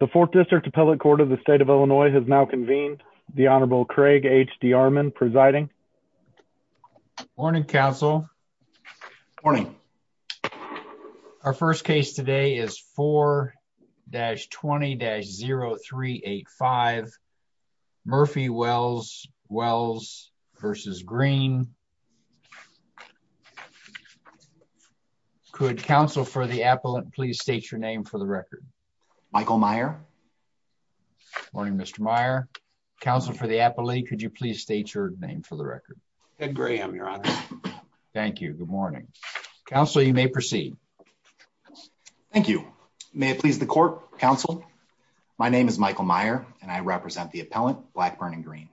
The 4th District Appellate Court of the State of Illinois has now convened. The Honorable Craig H. D'Armond presiding. Morning, counsel. Morning. Our first case today is 4-20-0385 Murphy-Wells-Wells v. Green. Could counsel for the appellant please state your name for the record? Michael Meyer. Morning, Mr. Meyer. Counsel for the appellate, could you please state your name for the record? Ed Graham, your honor. Thank you. Good morning. Counsel, you may proceed. Thank you. May it please the court, counsel. My name is Michael Meyer and I represent the appellant, Blackburn and Green.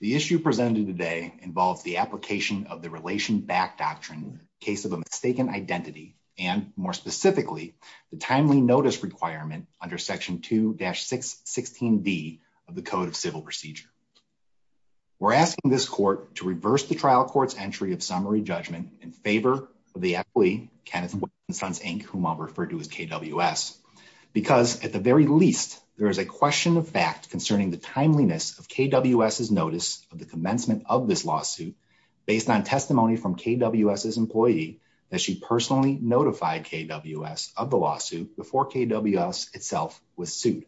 The issue presented today involves the application of the Relation Back Doctrine in the case of a mistaken identity and, more specifically, the timely notice requirement under Section 2-616D of the Code of Civil Procedure. We're asking this court to reverse the trial court's entry of summary judgment in favor of the appellee, Kenneth Wells and Sons Inc., whom I'll refer to as KWS, because, at the very least, there is a question of fact concerning the timeliness of KWS's notice of the commencement of this lawsuit based on testimony from KWS's employee that she personally notified KWS of the lawsuit before KWS itself was sued.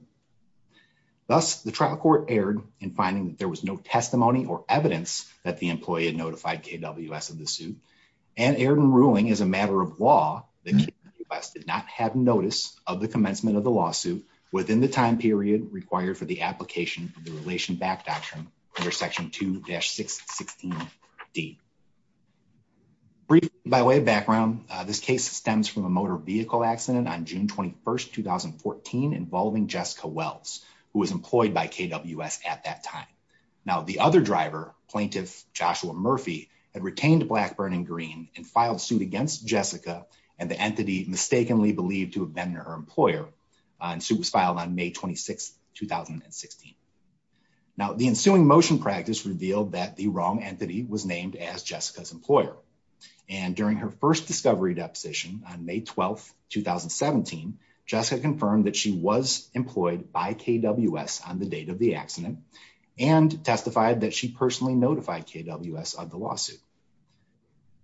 Thus, the trial court erred in finding that there was no testimony or evidence that the employee had notified KWS of the suit and erred in ruling as a matter of law that KWS did not have notice of the commencement of the lawsuit within the time period required for the application of the Relation Back Doctrine under Section 2-616D. Briefing by way of background, this case stems from a motor vehicle accident on June 21, 2014, involving Jessica Wells, who was employed by KWS at that time. Now, the other driver, Plaintiff Joshua Murphy, had retained Blackburn and Green and filed suit against Jessica and the entity mistakenly believed to have been her employer, and suit was filed on May 26, 2016. Now, the ensuing motion practice revealed that the wrong entity was named as Jessica's employer, and during her first discovery deposition on May 12, 2017, Jessica confirmed that she was employed by KWS on the date of the accident and testified that she personally notified KWS of the lawsuit.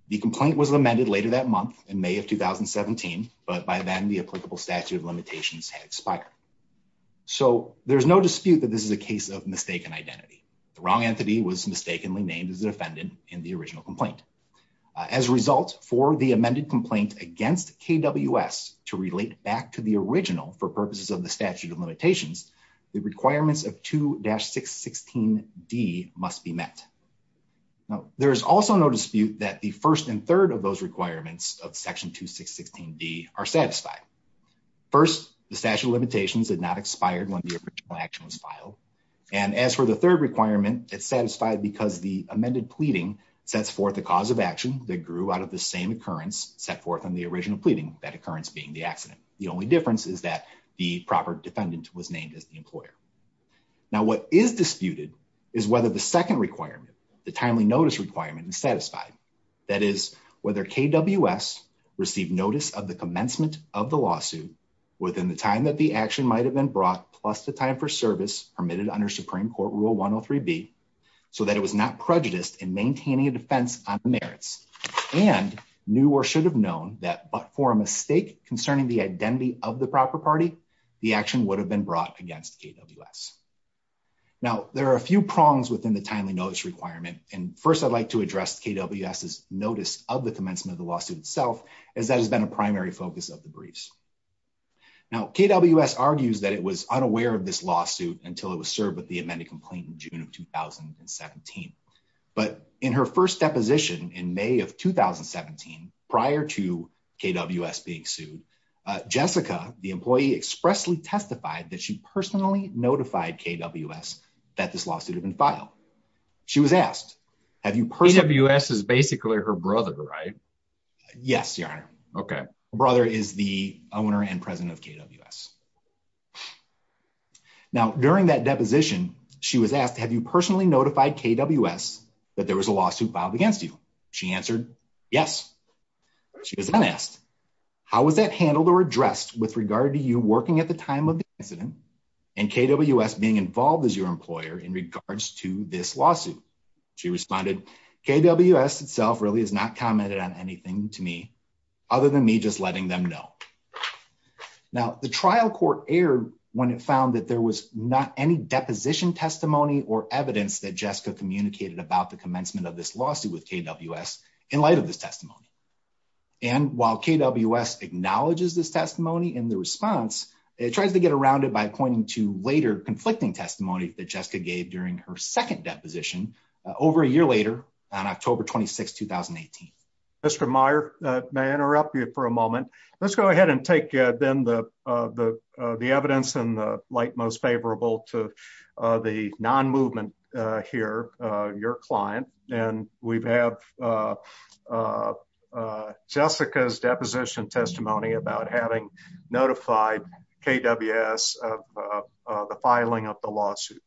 The complaint was amended later that month in May of 2017, but by then the applicable statute of limitations had expired. So, there's no dispute that this is a case of mistaken identity. The wrong entity was mistakenly named as the defendant in the original complaint. As a result, for the amended complaint against KWS to relate back to the original for purposes of the statute of limitations, the requirements of 2-616D must be met. Now, there is also no dispute that the first and third of those requirements of Section 2-616D are satisfied. First, the statute of limitations had not expired when the original action was filed, and as for the third requirement, it's satisfied because the amended pleading sets forth the cause of action that grew out of the same occurrence set forth on the original pleading, that occurrence being the accident. Now, what is disputed is whether the second requirement, the timely notice requirement, is satisfied. That is, whether KWS received notice of the commencement of the lawsuit within the time that the action might have been brought, plus the time for service permitted under Supreme Court Rule 103B, so that it was not prejudiced in maintaining a defense on the merits and knew or should have known that, but for a mistake concerning the identity of the proper party, the action would have been brought against KWS. Now, there are a few prongs within the timely notice requirement, and first I'd like to address KWS's notice of the commencement of the lawsuit itself, as that has been a primary focus of the briefs. Now, KWS argues that it was unaware of this lawsuit until it was served with the amended complaint in June of 2017, but in her first deposition in May of 2017, prior to KWS being expressly testified that she personally notified KWS that this lawsuit had been filed. She was asked, have you personally... KWS is basically her brother, right? Yes, Your Honor. Okay. Her brother is the owner and president of KWS. Now, during that deposition, she was asked, have you personally notified KWS that there was a lawsuit filed against you? She answered, yes. She was then asked, how was that handled or addressed with regard to you working at the time of the incident and KWS being involved as your employer in regards to this lawsuit? She responded, KWS itself really has not commented on anything to me, other than me just letting them know. Now, the trial court erred when it found that there was not any deposition testimony or evidence that Jessica communicated about the commencement of this lawsuit with KWS in light of this testimony. And while KWS acknowledges this testimony in the response, it tries to get around it by pointing to later conflicting testimony that Jessica gave during her second deposition over a year later on October 26th, 2018. Mr. Meyer, may I interrupt you for a moment? Let's go ahead and take then the evidence in the light most favorable to the non-movement here, your client. And we have Jessica's deposition testimony about having notified KWS of the filing of the lawsuit.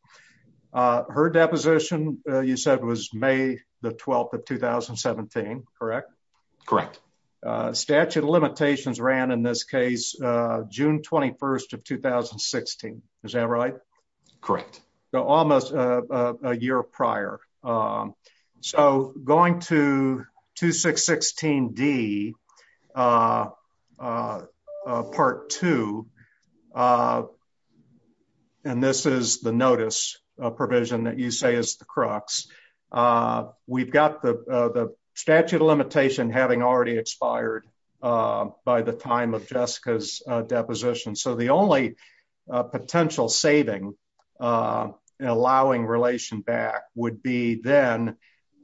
Her deposition, you said was May the 12th of 2017, correct? Correct. Statute of limitations ran in this case, June 21st of 2016. Is that right? Correct. Almost a year prior. So going to 2616D part two, and this is the notice provision that you say is the crux. We've got the statute of limitation having already expired by the time of Jessica's deposition. So the only potential saving allowing relation back would be then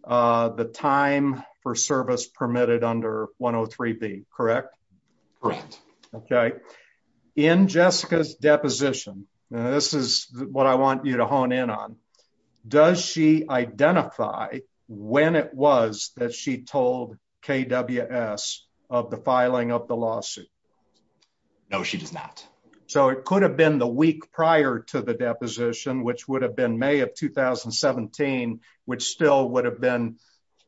the time for service permitted under 103B, correct? In Jessica's deposition, and this is what I want you to hone in on, does she identify when it was that she told KWS of the filing of the lawsuit? No, she does not. So it could have been the week prior to the deposition, which would have been May of 2017, which still would have been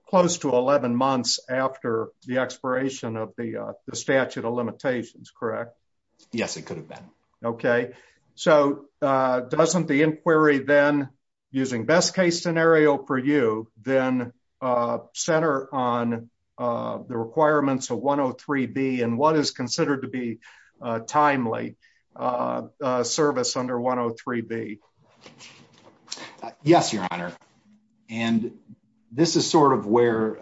close to 11 months after the expiration of the statute of limitations, correct? Yes, it could have been. Okay. So doesn't the inquiry then using best case scenario for you then center on the requirements of 103B and what is considered to be a timely service under 103B? Yes, your honor. And this is sort of where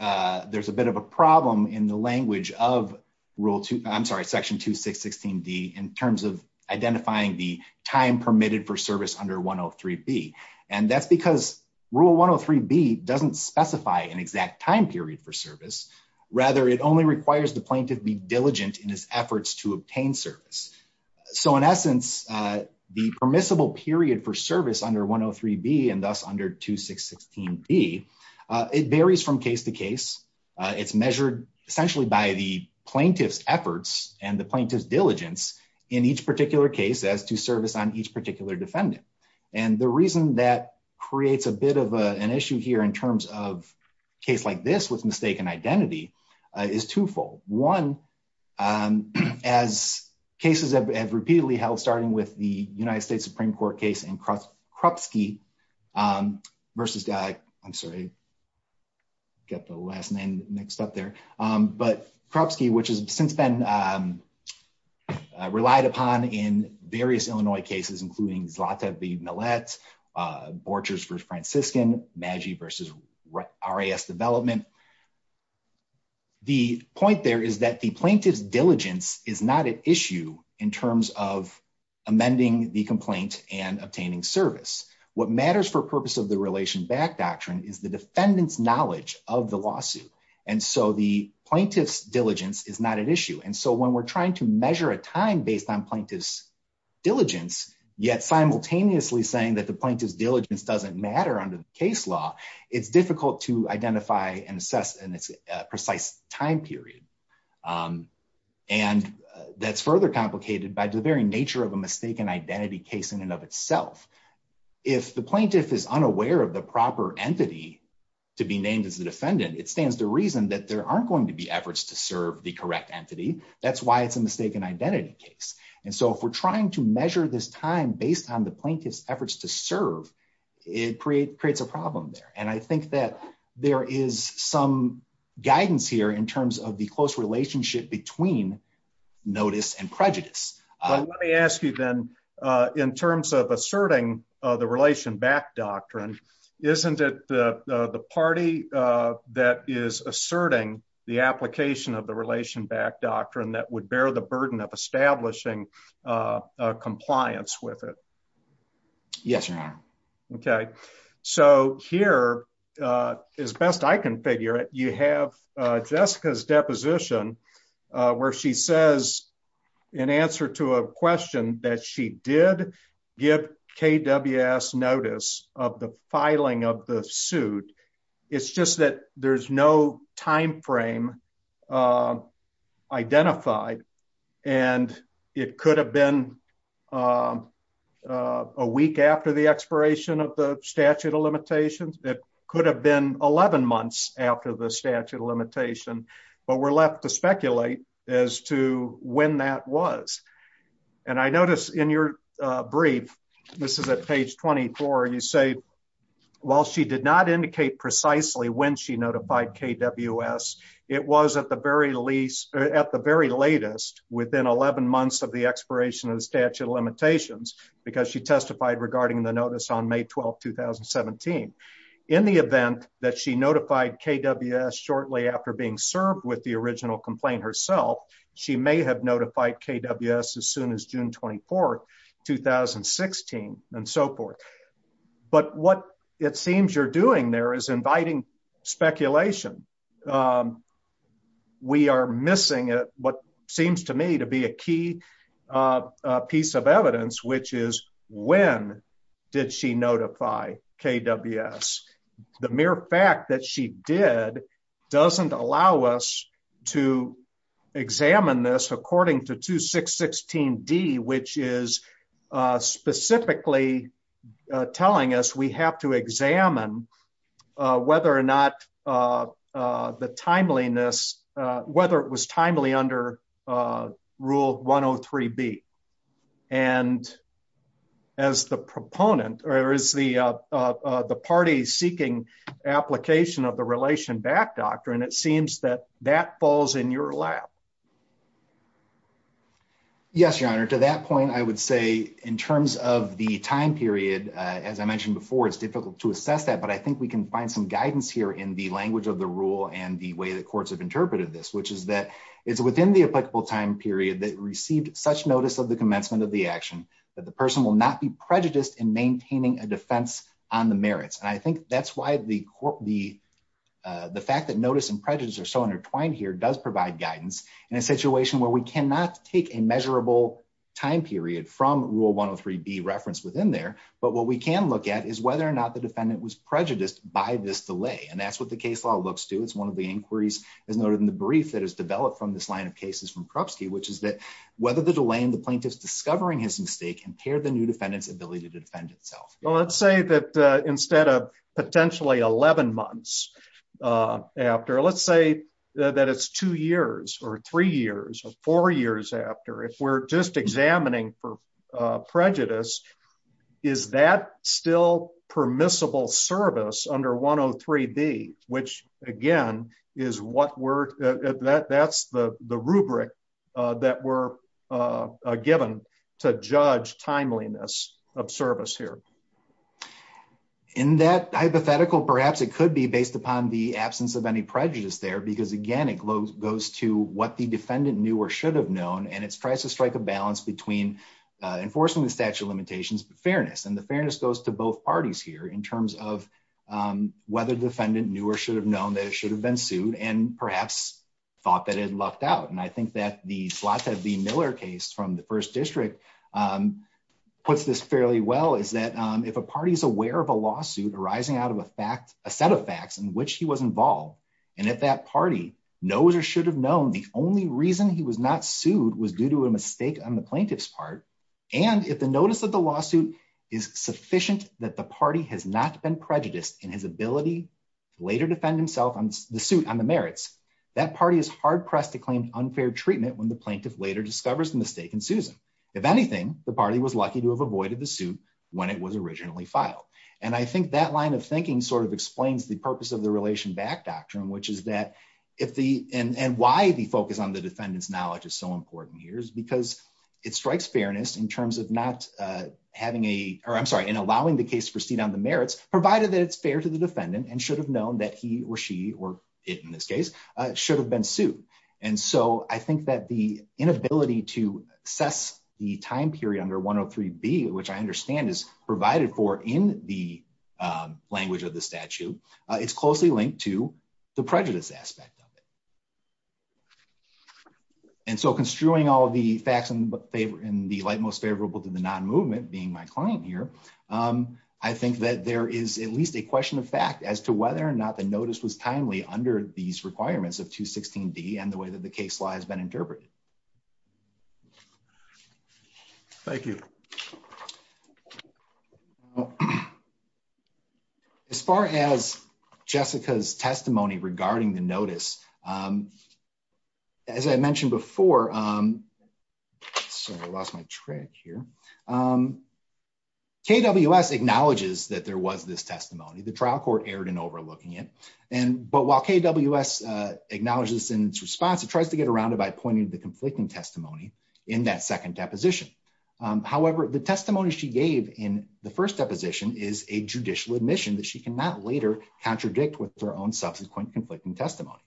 there's a bit of a problem in the language of rule two, I'm sorry, section 2616D in terms of identifying the time permitted for service under 103B. And that's because rule 103B doesn't specify an exact time period for service. Rather, it only requires the plaintiff be diligent in his efforts to obtain service. So in essence, the permissible period for service under 103B and thus under 2616D, it varies from case to case. It's measured essentially by the plaintiff's efforts and the plaintiff's diligence in each particular case as to service on each particular defendant. And the reason that creates a bit of an issue here in terms of case like this with mistaken identity is twofold. One, as cases have repeatedly held starting with the United States Supreme Court case in Krupsky versus, I'm sorry, got the last name mixed up there. But Krupsky, which has since been relied upon in various Illinois cases, including Zlata v. Millett, Borchers v. Franciscan, Maggi v. RAS development. The point there is that the plaintiff's diligence is not an issue in terms of amending the complaint and obtaining service. What matters for purpose of the Relation Back Doctrine is the defendant's knowledge of the lawsuit. And so the plaintiff's diligence is not an issue. And so when we're trying to measure a time based on plaintiff's diligence, yet simultaneously saying that the plaintiff's diligence doesn't matter under the case law, it's difficult to identify and assess in its precise time period. And that's further complicated by the very nature of a mistaken identity case in and of itself. If the plaintiff is unaware of the proper entity to be named as the defendant, it stands to reason that there aren't going to be efforts to serve the correct entity. That's why it's a mistaken identity case. And so if we're trying to measure this time based on the plaintiff's efforts to serve, it creates a problem there. And I think that there is some guidance here in terms of the close relationship between notice and prejudice. Let me ask you then, in terms of asserting the Relation Back Doctrine, isn't it the party that is asserting the application of the Relation Back Doctrine that would bear the burden of Yes, Your Honor. Okay, so here, as best I can figure it, you have Jessica's deposition where she says in answer to a question that she did give KWS notice of the filing of the suit. It's just that there's no time frame identified and it could have been a week after the expiration of the statute of limitations. It could have been 11 months after the statute of limitation, but we're left to speculate as to when that was. And I noticed in your brief, this is at page 24, you say, while she did not indicate precisely when she notified KWS, it was at the very latest, within 11 months of the expiration of the statute of limitations, because she testified regarding the notice on May 12, 2017. In the event that she notified KWS shortly after being served with the original complaint herself, she may have notified KWS as soon as June 24, 2016, and so forth. But what it seems you're doing there is inviting speculation. We are missing what seems to me to be a key piece of evidence, which is when did she notify KWS? The mere fact that she did doesn't allow us to examine this according to 2616D, which is specifically telling us we have to examine whether or not the timeliness, whether it was timely under Rule 103B. And as the proponent, or as the party seeking application of the Relation Back Doctrine, it seems that that falls in your lap. Yes, Your Honor. To that point, I would say in terms of the time period, as I mentioned before, it's difficult to assess that. But I think we can find some guidance here in the language of the rule and the way that courts have interpreted this, which is that it's within the applicable time period that received such notice of the commencement of the action that the person will not be prejudiced in maintaining a defense on the merits. And I think that's why the fact that notice and prejudice are so intertwined here does provide guidance in a situation where we cannot take a measurable time period from Rule 103B referenced within there. But what we can look at is whether or not the defendant was prejudiced by this delay. And that's what the case law looks to. It's one of the inquiries as noted in the brief that is developed from this line of cases from Krupski, which is that whether the delay in the plaintiff's discovering his mistake impaired the new defendant's ability to defend itself. Let's say that instead of potentially 11 months after, let's say that it's two years or three years or four years after, if we're just examining for prejudice, is that still permissible service under 103B, which again, is what we're, that's the rubric that we're given to judge timeliness of service here. In that hypothetical, perhaps it could be based upon the absence of any prejudice there, because again, it goes to what the defendant knew or should have known. And it tries to strike a balance between enforcing the statute of limitations, but fairness. And the fairness goes to both parties here in terms of whether the defendant knew or should have known that it should have been sued and perhaps thought that it had lucked out. And I think that the slot that the Miller case from the first district puts this fairly well is that if a party is aware of a lawsuit arising out of a fact, a set of facts in which he was involved. And if that party knows or should have known the only reason he was not sued was due to a mistake on the plaintiff's part. And if the notice of the lawsuit is sufficient that the party has not been prejudiced in his ability to later defend himself on the suit on the merits, that party is hard pressed to claim unfair treatment when the plaintiff later discovers the mistake and Susan, if was lucky to have avoided the suit when it was originally filed. And I think that line of thinking sort of explains the purpose of the relation back doctrine, which is that if the, and why the focus on the defendant's knowledge is so important here is because it strikes fairness in terms of not having a, or I'm sorry, in allowing the case proceed on the merits provided that it's fair to the defendant and should have known that he or she, or it in this case should have been sued. And so I think that the inability to assess the time period under one Oh three B, which I understand is provided for in the language of the statute, it's closely linked to the prejudice aspect of it. And so construing all of the facts in the light, most favorable to the non-movement being my client here. I think that there is at least a question of fact as to whether or not the notice was and the way that the case law has been interpreted. Thank you. As far as Jessica's testimony regarding the notice, as I mentioned before, sorry, I lost my track here. KWS acknowledges that there was this testimony, the trial court erred in overlooking it. But while KWS acknowledges in its response, it tries to get around it by pointing to the conflicting testimony in that second deposition. However, the testimony she gave in the first deposition is a judicial admission that she cannot later contradict with their own subsequent conflicting testimony.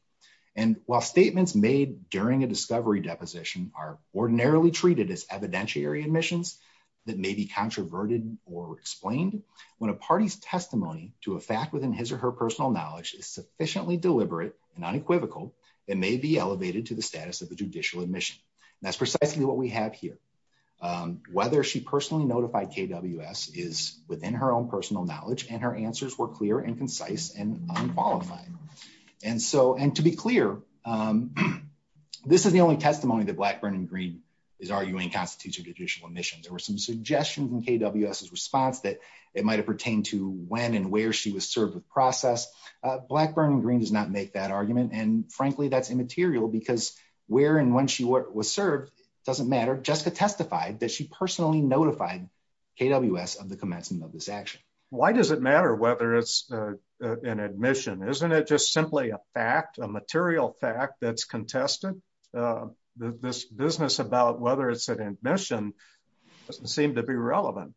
And while statements made during a discovery deposition are ordinarily treated as evidentiary admissions that may be controverted or explained when a party's testimony to a fact within her personal knowledge is sufficiently deliberate and unequivocal, it may be elevated to the status of a judicial admission. That's precisely what we have here. Whether she personally notified KWS is within her own personal knowledge and her answers were clear and concise and unqualified. And to be clear, this is the only testimony that Blackburn and Green is arguing constitutes a judicial admission. There were some suggestions in KWS's response that it might have pertained to when and where she was served with process. Blackburn and Green does not make that argument. And frankly, that's immaterial because where and when she was served doesn't matter. Jessica testified that she personally notified KWS of the commencement of this action. Why does it matter whether it's an admission? Isn't it just simply a fact, a material fact that's contested? This business about whether it's an admission doesn't seem to be relevant.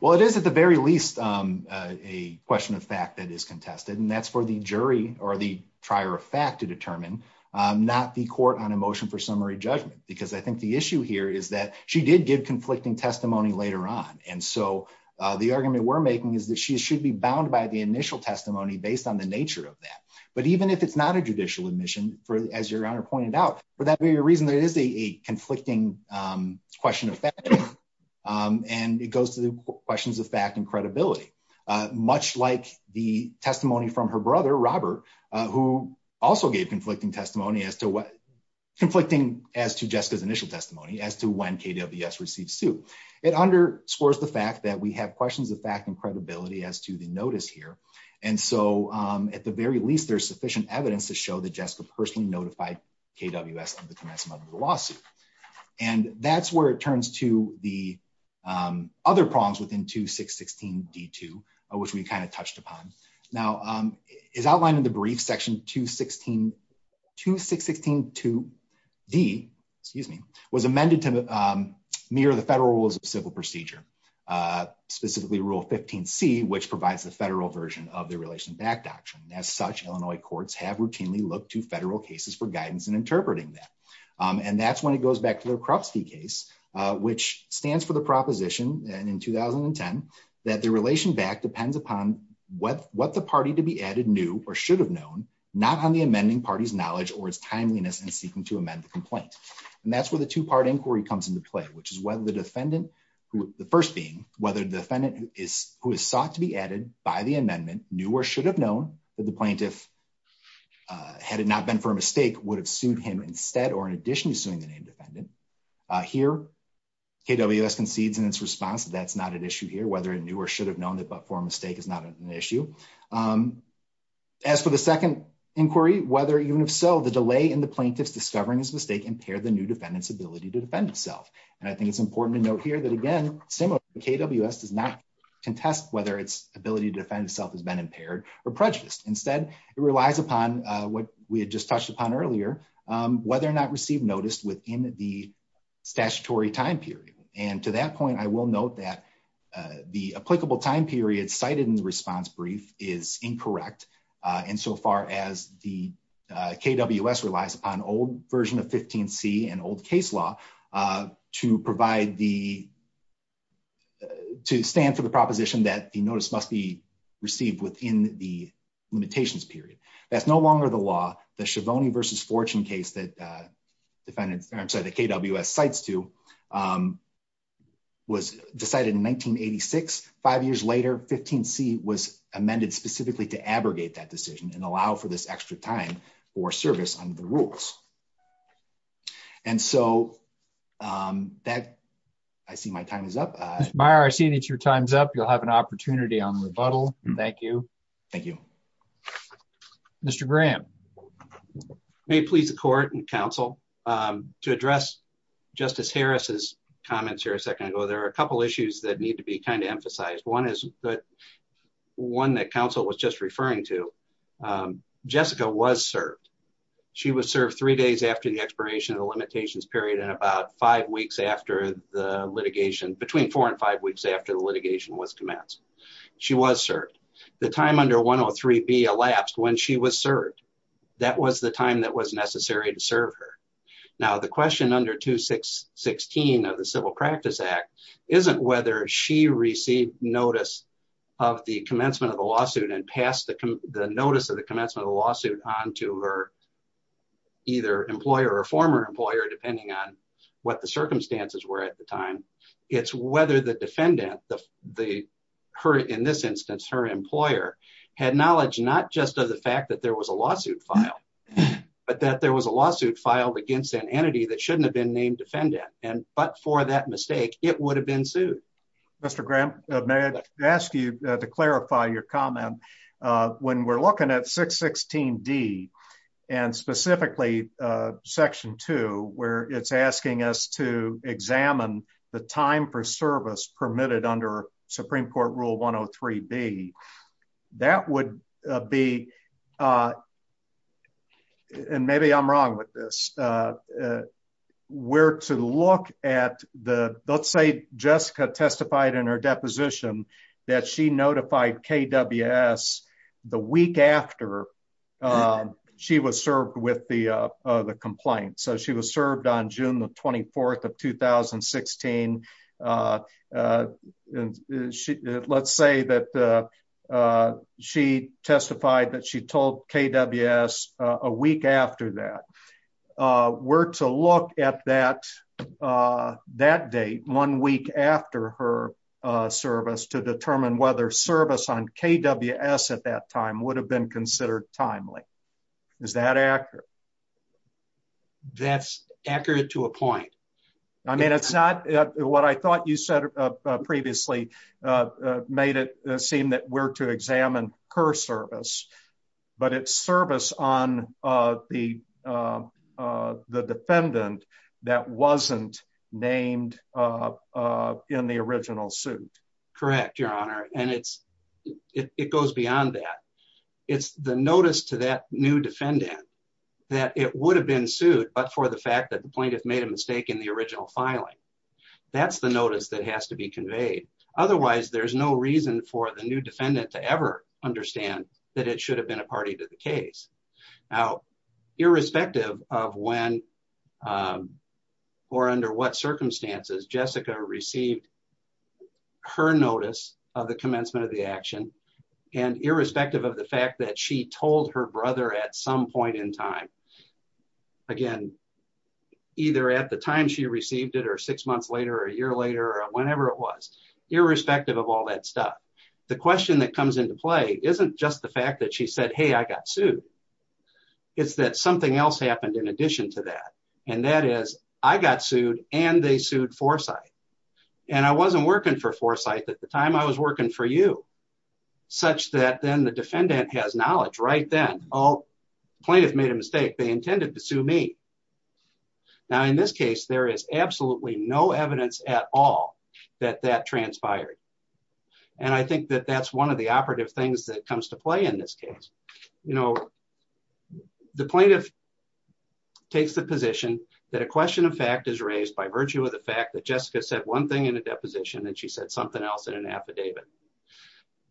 Well, it is at the very least a question of fact that is contested. And that's for the jury or the trier of fact to determine, not the court on a motion for summary judgment. Because I think the issue here is that she did give conflicting testimony later on. And so the argument we're making is that she should be bound by the initial testimony based on the nature of that. But even if it's not a judicial admission, as your honor pointed out, for that very reason, there is a conflicting question of fact. And it goes to the questions of fact and credibility, much like the testimony from her brother, Robert, who also gave conflicting testimony as to what conflicting as to Jessica's initial testimony as to when KWS received suit. It underscores the fact that we have questions of fact and credibility as to the notice here. And so at the very least, there's sufficient evidence to show that Jessica personally notified KWS of the commencement of the lawsuit. And that's where it turns to the other problems within 2616d2, which we kind of touched upon. Now, as outlined in the brief section, 2616d was amended to mirror the Federal Rules of Civil Procedure, specifically Rule 15c, which provides the federal version of the Relation of Fact Doctrine. As such, Illinois courts have routinely looked to federal cases for guidance in interpreting that. And that's when it goes back to the Krupski case, which stands for the proposition, and in 2010, that the Relation of Fact depends upon what the party to be added knew or should have known, not on the amending party's knowledge or its timeliness in seeking to amend the complaint. And that's where the two-part inquiry comes into play, which is whether the defendant, the first being, whether the defendant who is sought to be added by the amendment knew or should have known that the plaintiff, had it not been for a mistake, would have sued him instead or in addition to suing the named defendant. Here, KWS concedes in its response that that's not an issue here, whether it knew or should have known that but for a mistake is not an issue. As for the second inquiry, whether even if so, the delay in the plaintiff's discovering his mistake impaired the new defendant's ability to defend himself. And I think it's important to note here that, again, KWS does not contest whether its ability to defend itself has been impaired or prejudiced. Instead, it relies upon what we had just touched upon earlier, whether or not received notice within the statutory time period. And to that point, I will note that the applicable time period cited in the response brief is incorrect insofar as the KWS relies upon old version of 15C and old case law to provide the, to stand for the proposition that the notice must be received within the limitations period. That's no longer the law. The Schiavone v. Fortune case that KWS cites to was decided in 1986. Five years later, 15C was amended specifically to abrogate that decision and allow for this extra time for service under the rules. And so, that, I see my time is up. Mr. Meyer, I see that your time is up. You'll have an opportunity on rebuttal. Thank you. Thank you. Mr. Graham. May it please the court and counsel, to address Justice Harris's comments here a second ago, there are a couple issues that need to be kind of emphasized. One is that, one that counsel was just referring to, Jessica was served. She was served three days after the expiration of the limitations period and about five weeks after the litigation, between four and five weeks after the litigation was commenced. She was served. The time under 103B elapsed when she was served. That was the time that was necessary to serve her. Now, the question under 216 of the Civil Practice Act, isn't whether she received notice of commencement of the lawsuit and passed the notice of the commencement of the lawsuit on to her, either employer or former employer, depending on what the circumstances were at the time. It's whether the defendant, in this instance, her employer, had knowledge, not just of the fact that there was a lawsuit filed, but that there was a lawsuit filed against an entity that shouldn't have been named defendant. But for that mistake, it would have been sued. Mr. Graham, may I ask you to clarify your comment? When we're looking at 616D, and specifically Section 2, where it's asking us to examine the time for service permitted under Supreme Court Rule 103B, that would be, and maybe I'm wrong with this, where to look at the, let's say Jessica testified in her deposition that she notified KWS the week after she was served with the complaint. So she was served on June the 24th of 2016. Let's say that she testified that she told KWS a week after that. Where to look at that date, one week after her service, to determine whether service on KWS at that time would have been considered timely. Is that accurate? That's accurate to a point. I mean, it's not what I thought you said previously made it seem that we're to examine her service. But it's service on the defendant that wasn't named in the original suit. Correct, Your Honor. And it goes beyond that. It's the notice to that new defendant that it would have been sued, but for the fact that the plaintiff made a mistake in the original filing. That's the notice that has to be conveyed. Otherwise, there's no reason for the new defendant to ever understand that it should have been a party to the case. Now, irrespective of when or under what circumstances Jessica received her notice of the commencement of the action, and irrespective of the fact that she told her brother at some point in time, again, either at the time she received it or six months later, a year later, whenever it was, irrespective of all that stuff. The question that comes into play isn't just the fact that she said, hey, I got sued. It's that something else happened in addition to that. And that is, I got sued and they sued Foresight. And I wasn't working for Foresight at the time I was working for you, such that then the defendant has knowledge right then. Oh, plaintiff made a mistake. They intended to sue me. Now, in this case, there is absolutely no evidence at all that that transpired. And I think that that's one of the operative things that comes to play in this case. You know, the plaintiff takes the position that a question of fact is raised by virtue of the fact that Jessica said one thing in a deposition and she said something else in an affidavit.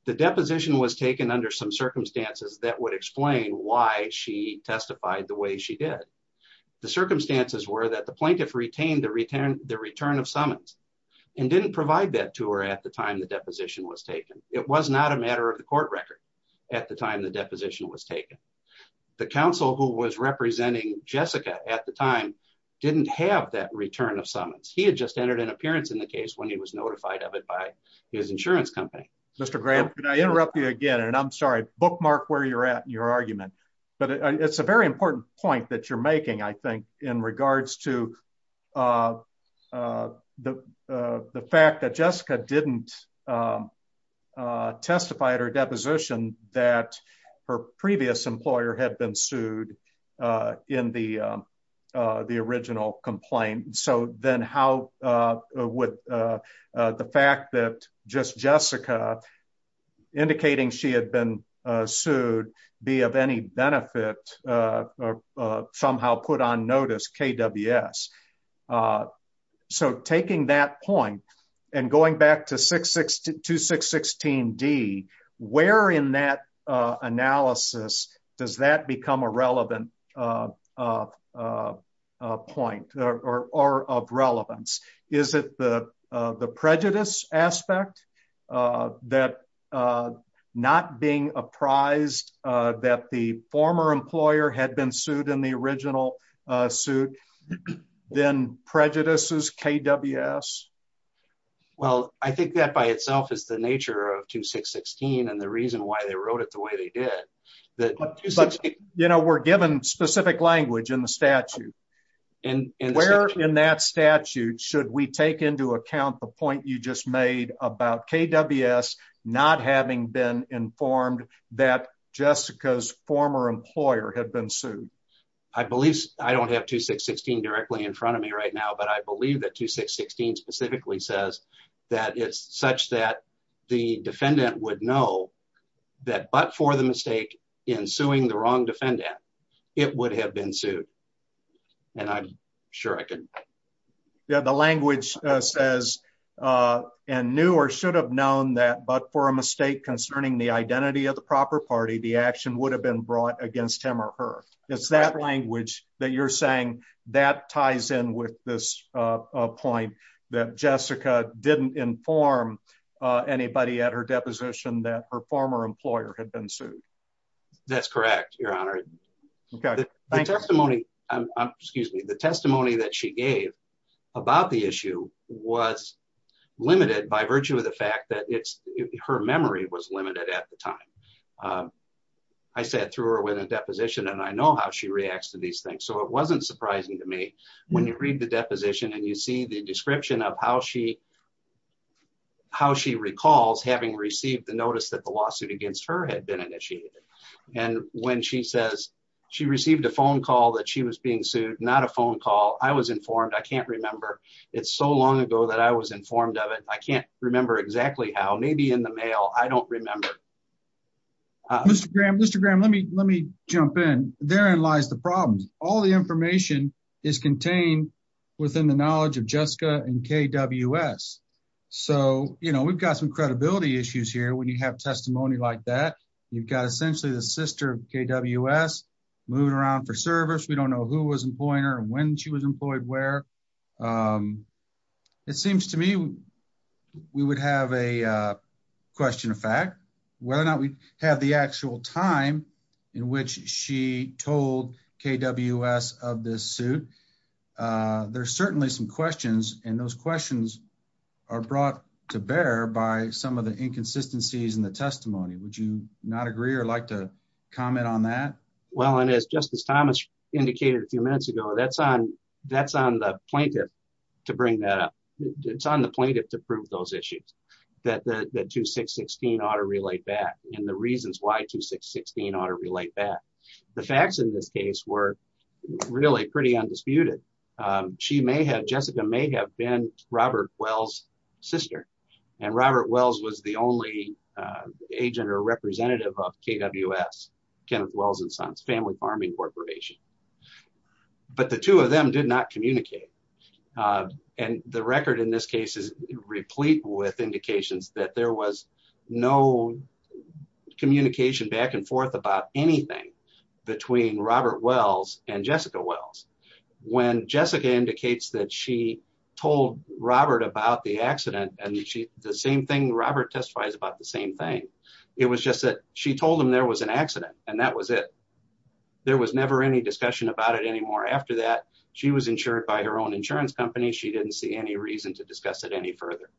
The deposition was taken under some circumstances that would explain why she testified the way she did. The circumstances were that the plaintiff retained the return of summons and didn't provide that to her at the time the deposition was taken. It was not a matter of the court record at the time the deposition was taken. The counsel who was representing Jessica at the time didn't have that return of summons. He had just entered an appearance in the case when he was notified of it by his insurance company. Mr. Graham, can I interrupt you again? And I'm sorry, bookmark where you're at in your argument. But it's a very important point that you're making, I think, in regards to the fact that Jessica didn't testify at her deposition that her previous employer had been sued in the original complaint. So then how would the fact that just Jessica, indicating she had been sued, be of any benefit or somehow put on notice, KWS? So taking that point and going back to 616D, where in that analysis does that become a point or of relevance? Is it the prejudice aspect that not being apprised that the former employer had been sued in the original suit then prejudices KWS? Well, I think that by itself is the nature of 2616 and the reason why they wrote it the way they did. But, you know, we're given specific language in the statute and where in that statute should we take into account the point you just made about KWS not having been informed that Jessica's former employer had been sued? I believe I don't have 2616 directly in front of me right now, but I believe that 2616 says that it's such that the defendant would know that but for the mistake in suing the wrong defendant, it would have been sued. And I'm sure I can. The language says, and knew or should have known that but for a mistake concerning the identity of the proper party, the action would have been brought against him or her. It's that language that you're saying that ties in with this point that Jessica didn't inform anybody at her deposition that her former employer had been sued. That's correct, Your Honor. My testimony, excuse me, the testimony that she gave about the issue was limited by virtue of the fact that it's her memory was limited at the time. Um, I sat through her with a deposition and I know how she reacts to these things. So it wasn't surprising to me when you read the deposition and you see the description of how she, how she recalls having received the notice that the lawsuit against her had been initiated. And when she says she received a phone call that she was being sued, not a phone call. I was informed. I can't remember. It's so long ago that I was informed of it. I can't remember exactly how maybe in the mail. I don't remember. Mr. Graham, Mr. Graham, let me, let me jump in. Therein lies the problems. All the information is contained within the knowledge of Jessica and KWS. So, you know, we've got some credibility issues here. When you have testimony like that, you've got essentially the sister of KWS moving around for service. We don't know who was employing her and when she was employed, where, um, it seems to me we would have a, uh, question of fact, whether or not we have the actual time in which she told KWS of this suit. Uh, there's certainly some questions and those questions are brought to bear by some of the inconsistencies in the testimony. Would you not agree or like to comment on that? Well, and as Justice Thomas indicated a few minutes ago, that's on, that's on the plaintiff to bring that up. It's on the plaintiff to prove those issues that, that, that two, six, 16 ought to relate back in the reasons why two, six, 16 ought to relate back. The facts in this case were really pretty undisputed. Um, she may have, Jessica may have been Robert Wells' sister and Robert Wells was the only, uh, agent or representative of KWS, Kenneth Wells and Sons, Family Farming Corporation. But the two of them did not communicate. Uh, and the record in this case is replete with indications that there was no communication back and forth about anything between Robert Wells and Jessica Wells. When Jessica indicates that she told Robert about the accident and she, the same thing Robert testifies about the same thing. It was just that she told him there was an accident and that was it. There was never any discussion about it anymore. After that, she was insured by her own insurance company. She didn't see any reason to discuss it any further.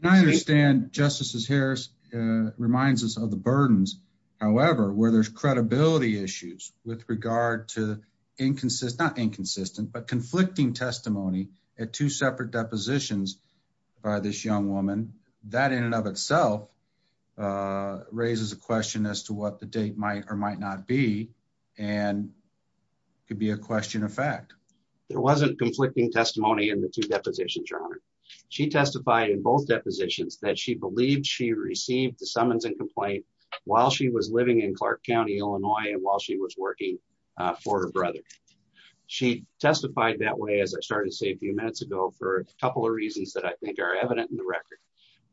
Can I understand Justices Harris, uh, reminds us of the burdens, however, where there's credibility issues with regard to inconsistent, not inconsistent, but conflicting testimony at two separate depositions by this young woman that in and of itself, uh, raises a might or might not be, and it could be a question of fact. There wasn't conflicting testimony in the two depositions, Your Honor. She testified in both depositions that she believed she received the summons and complaint while she was living in Clark County, Illinois. And while she was working for her brother, she testified that way. As I started to say a few minutes ago for a couple of reasons that I think are evident in the record.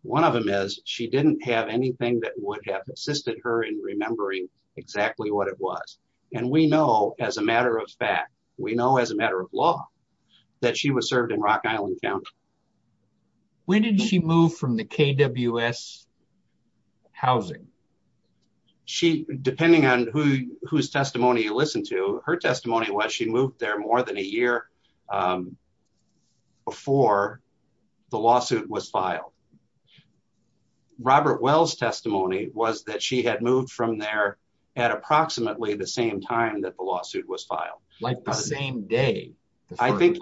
One of them is she didn't have anything that would have assisted her in remembering exactly what it was. And we know as a matter of fact, we know as a matter of law that she was served in Rock Island County. When did she move from the KWS housing? She, depending on who, whose testimony you listened to, her testimony was she moved there more than a year, um, before the lawsuit was filed. Um, Robert Wells testimony was that she had moved from there at approximately the same time that the lawsuit was filed. Like the same day, I think,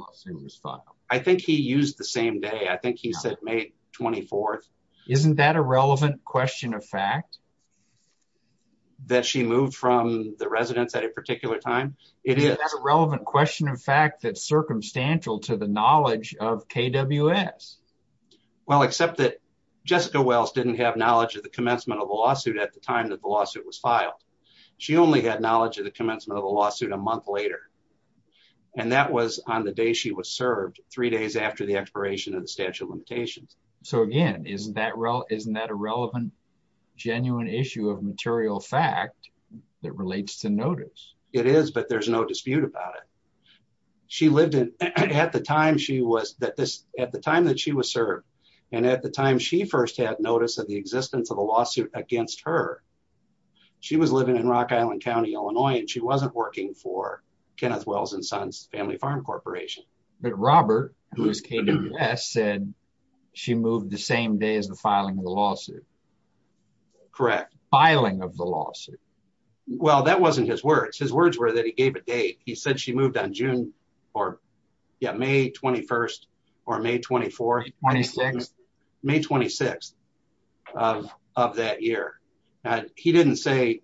I think he used the same day. I think he said May 24th. Isn't that a relevant question of fact that she moved from the residence at a particular time? It is a relevant question. In fact, that's circumstantial to the knowledge of KWS. Well, except that Jessica Wells didn't have knowledge of the commencement of the lawsuit at the time that the lawsuit was filed. She only had knowledge of the commencement of the lawsuit a month later, and that was on the day she was served three days after the expiration of the statute of limitations. So again, isn't that real? Isn't that a relevant, genuine issue of material fact that relates to notice? It is, but there's no dispute about it. She lived in, at the time she was that this, at the time that she was served and at the time she first had notice of the existence of a lawsuit against her, she was living in Rock Island County, Illinois, and she wasn't working for Kenneth Wells and Sons Family Farm Corporation. But Robert, who is KWS, said she moved the same day as the filing of the lawsuit. Correct. Filing of the lawsuit. Well, that wasn't his words. His words were that he gave a date. He said she moved on June or yeah, May 21st or May 24th, 26th of that year. He didn't say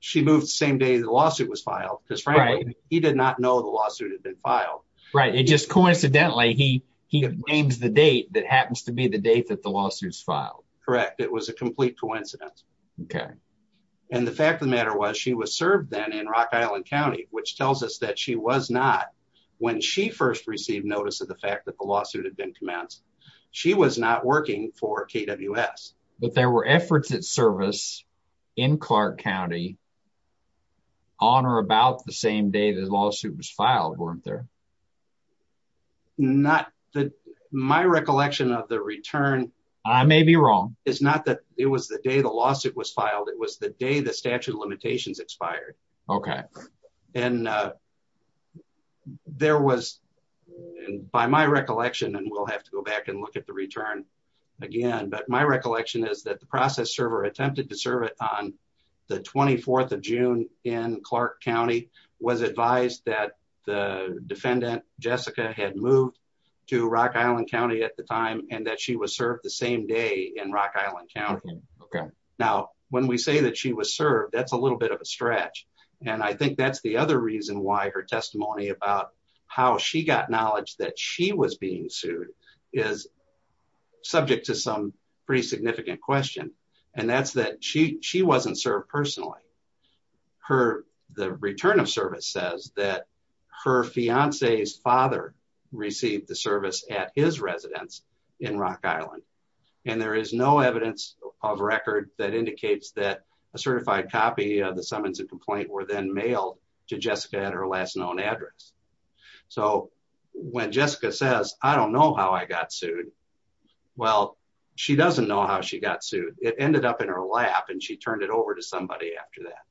she moved the same day the lawsuit was filed because frankly, he did not know the lawsuit had been filed. Right. It just coincidentally, he names the date that happens to be the date that the lawsuit was filed. Correct. It was a complete coincidence. Okay. And the fact of the matter was she was served then in Rock Island County, which tells us that she was not, when she first received notice of the fact that the lawsuit had been commenced, she was not working for KWS. But there were efforts at service in Clark County on or about the same day the lawsuit was filed, weren't there? My recollection of the return... I may be wrong. It's not that it was the day the lawsuit was filed. It was the day the statute of limitations expired. Okay. And there was, by my recollection, and we'll have to go back and look at the return again, but my recollection is that the process server attempted to serve it on the 24th of June in Clark County, was advised that the defendant, Jessica, had moved to Rock Island County at the time and that she was served the same day in Rock Island County. Okay. Now, when we say that she was served, that's a little bit of a stretch. And I think that's the other reason why her testimony about how she got knowledge that she was being sued is subject to some pretty significant question. And that's that she wasn't served personally. Her, the return of service says that her fiance's father received the service at his residence in Rock Island. And there is no evidence of record that indicates that a certified copy of the summons and complaint were then mailed to Jessica at her last known address. So when Jessica says, I don't know how I got sued. Well, she doesn't know how she got sued. It ended up in her lap and she turned it over to somebody after that.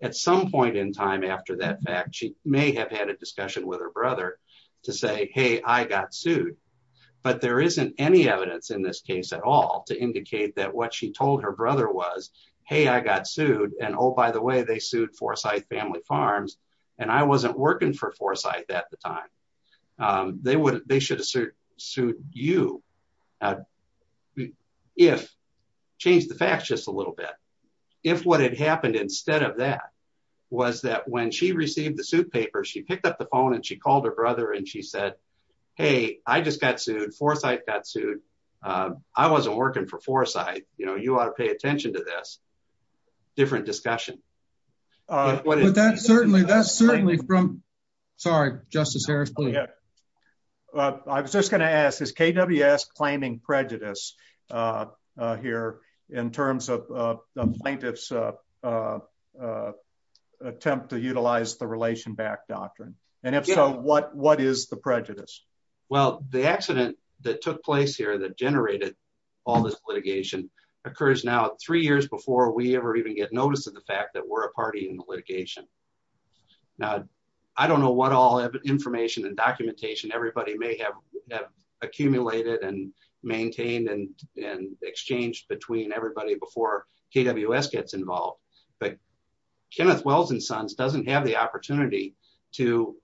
At some point in time after that fact, she may have had a discussion with her brother to say, Hey, I got sued. But there isn't any evidence in this case at all to indicate that what she told her brother was, Hey, I got sued. And oh, by the way, they sued Forsyth family farms. And I wasn't working for Forsyth at the time. They would, they should have sued you. If, change the facts just a little bit. If what had happened instead of that was that when she received the suit paper, she picked up the phone and she called her brother and she said, Hey, I just got sued. Forsyth got sued. I wasn't working for Forsyth. You know, you ought to pay attention to this. Different discussion. Uh, what is that? Certainly that's certainly from, sorry, justice Harris. I was just going to ask is KWS claiming prejudice, uh, uh, here in terms of, uh, plaintiff's, uh, uh, uh, attempt to utilize the relation back doctrine. And if so, what, what is the prejudice? Well, the accident that took place here that generated all this litigation occurs now three years before we ever even get notice of the fact that we're a party in the litigation. Now, I don't know what all information and documentation everybody may have accumulated and maintained and, and exchanged between everybody before KWS gets involved. But Kenneth Wells and sons doesn't have the opportunity to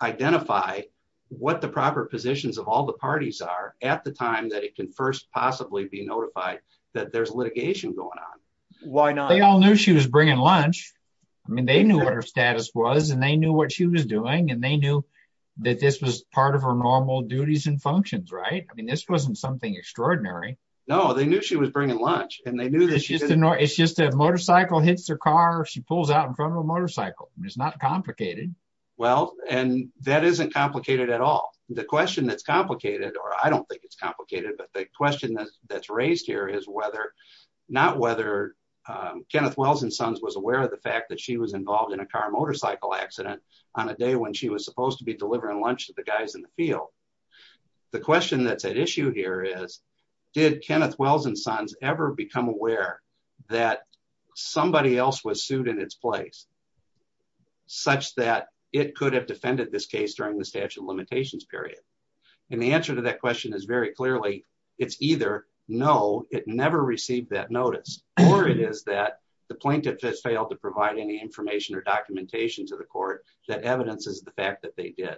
identify what the proper positions of all the parties are at the time that it can first possibly be notified that there's litigation going on. Why not? They all knew she was bringing lunch. I mean, they knew what her status was and they knew what she was doing and they knew that this was part of her normal duties and functions, right? I mean, this wasn't something extraordinary. No, they knew she was bringing lunch and they knew that she didn't know. It's just a motorcycle hits their car. She pulls out in front of a motorcycle. It's not complicated. Well, and that isn't complicated at all. The question that's complicated, or I don't think it's complicated, but the question that's raised here is whether, not whether Kenneth Wells and sons was aware of the fact that she was involved in a car motorcycle accident on a day when she was supposed to be delivering lunch to the guys in the field. The question that's at issue here is did Kenneth Wells and sons ever become aware that somebody else was sued in its place such that it could have defended this case during the statute of limitations period. And the answer to that question is very clearly it's either no, it never received that notice or it is that the plaintiff has failed to provide any information or documentation to the court that evidences the fact that they did.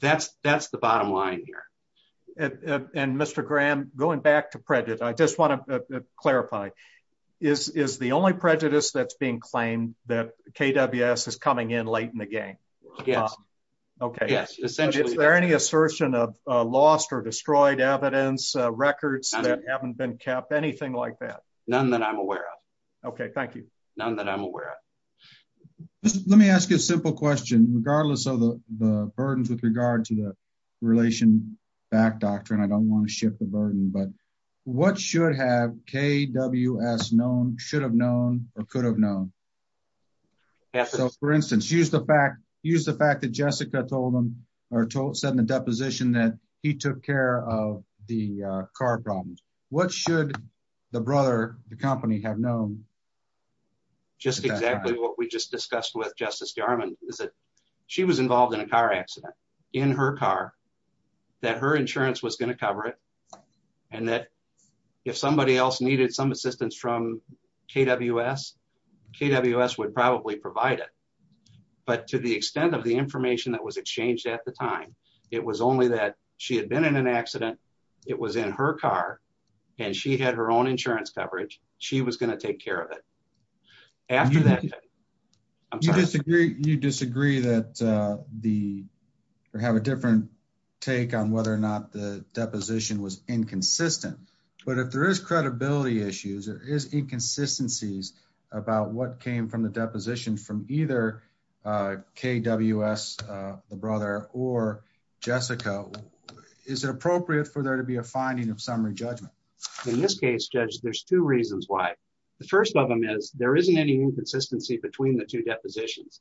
That's the bottom line here. And Mr. Graham, going back to prejudice, I just want to clarify, is the only prejudice that's being claimed that KWS is coming in late in the game? Yes. Okay. Yes, essentially. Is there any assertion of lost or destroyed evidence, records that haven't been kept, anything like that? None that I'm aware of. Okay, thank you. None that I'm aware of. Let me ask you a simple question, regardless of the burdens with regard to the relation back doctrine. I don't want to shift the burden, but what should have KWS known, should have known, or could have known? So, for instance, use the fact that Jessica told them or said in the deposition that he took care of the car problems. What should the brother, the company, have known? Just exactly what we just discussed with Justice Garmon is that she was involved in a car accident in her car, that her insurance was going to cover it, and that if somebody else needed some assistance from KWS, KWS would probably provide it. But to the extent of the information that was exchanged at the time, it was only that she had been in an accident, it was in her car, and she had her own insurance coverage, she was going to take care of it. After that... You disagree that the, or have a different take on whether or not the deposition was inconsistent. But if there is credibility issues, there is inconsistencies about what came from the deposition from either KWS, the brother, or Jessica, is it appropriate for there to be a finding of summary judgment? In this case, Judge, there's two reasons why. The first of them is there isn't any inconsistency between the two depositions.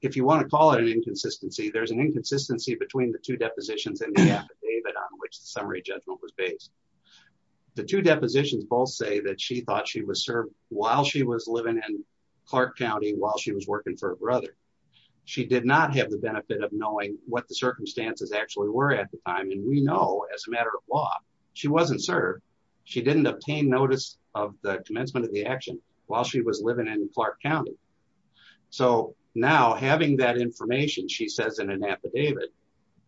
If you want to call it an inconsistency, there's an inconsistency between the two depositions and the affidavit on which the summary judgment was based. The two depositions both say that she thought she was served while she was living in Clark County while she was working for her brother. She did not have the benefit of knowing what the circumstances actually were at the time, and we know as a matter of law, she wasn't served. She didn't obtain notice of the commencement of the action while she was living in Clark County. So now having that information, she says in an affidavit,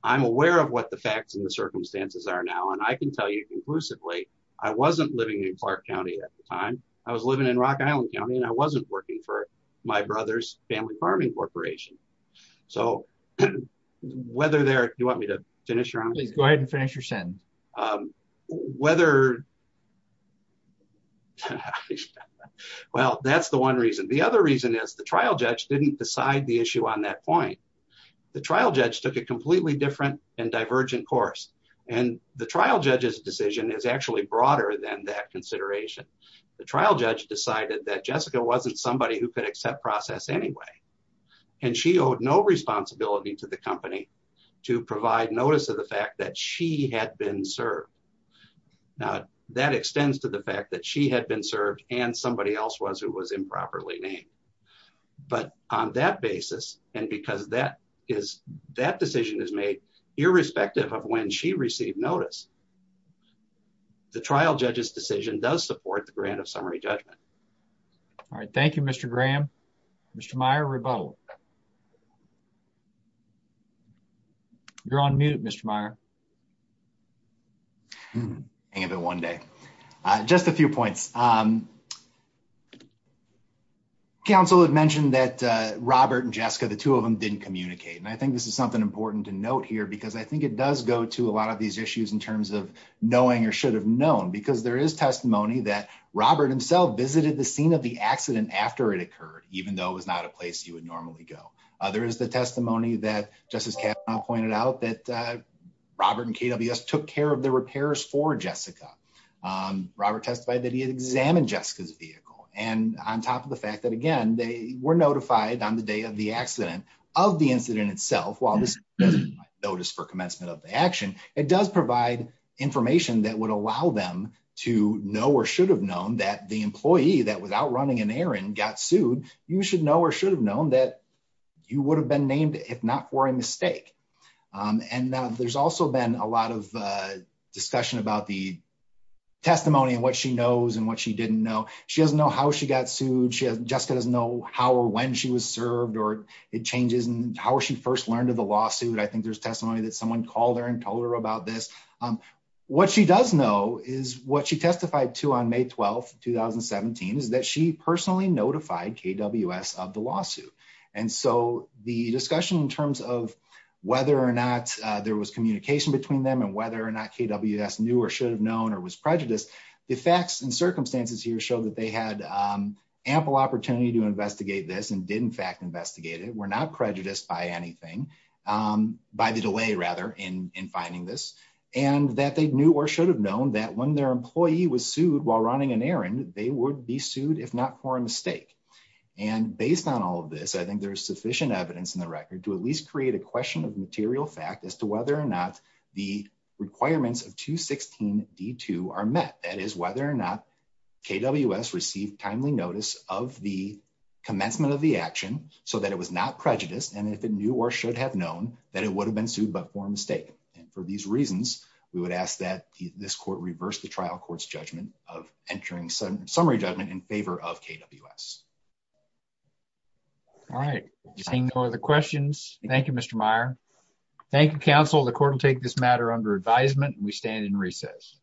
I'm aware of what the facts and the circumstances are now, and I can tell you conclusively, I wasn't living in Clark County at the time. I was living in Rock Island County, and I wasn't working for my brother's family farming corporation. So whether they're... Do you want me to finish? Please go ahead and finish your sentence. Whether... Well, that's the one reason. The other reason is the trial judge didn't decide the issue on that point. The trial judge took a completely different and divergent course, and the trial judge's decision is actually broader than that consideration. The trial judge decided that Jessica wasn't somebody who could accept process anyway, and she owed no responsibility to the company to provide notice of the fact that she had been served. Now, that extends to the fact that she had been served and somebody else was who was improperly named. But on that basis, and because that decision is made irrespective of when she received notice, the trial judge's decision does support the grant of summary judgment. All right. Thank you, Mr. Graham. Mr. Meyer, rebuttal. You're on mute, Mr. Meyer. Hang of it one day. Just a few points. The council had mentioned that Robert and Jessica, the two of them, didn't communicate, and I think this is something important to note here because I think it does go to a lot of these issues in terms of knowing or should have known, because there is testimony that Robert himself visited the scene of the accident after it occurred, even though it was not a place you would normally go. There is the testimony that Justice Kavanaugh pointed out that Robert and KWS took care of the repairs for Jessica. Robert testified that he had examined Jessica's vehicle. And on top of the fact that, again, they were notified on the day of the accident of the incident itself, while this doesn't provide notice for commencement of the action, it does provide information that would allow them to know or should have known that the employee that was out running an errand got sued, you should know or should have known that you would have been named if not for a mistake. And there's also been a lot of discussion about the testimony and what she knows and what she didn't know. She doesn't know how she got sued. Jessica doesn't know how or when she was served or it changes and how she first learned of the lawsuit. I think there's testimony that someone called her and told her about this. What she does know is what she testified to on May 12, 2017, is that she personally notified KWS of the lawsuit. And so the discussion in terms of whether or not there was communication between them and whether or not KWS knew or should have known or was prejudiced, the facts and circumstances here show that they had ample opportunity to investigate this and did in fact investigate it, were not prejudiced by anything, by the delay rather in finding this, and that they knew or should have known that when their employee was sued while running an errand, they would be sued if not for a mistake. And based on all of this, I think there's sufficient evidence in the record to at least create a question of material fact as to whether or not the requirements of 216 D2 are met. That is whether or not KWS received timely notice of the commencement of the action so that it was not prejudiced and if it knew or should have known that it would have been sued but for a mistake. And for these reasons, we would ask that this court reverse the trial court's judgment of entering summary judgment in favor of KWS. All right. Seeing no other questions. Thank you, Mr. Meyer. Thank you, counsel. The court will take this matter under advisement. We stand in recess.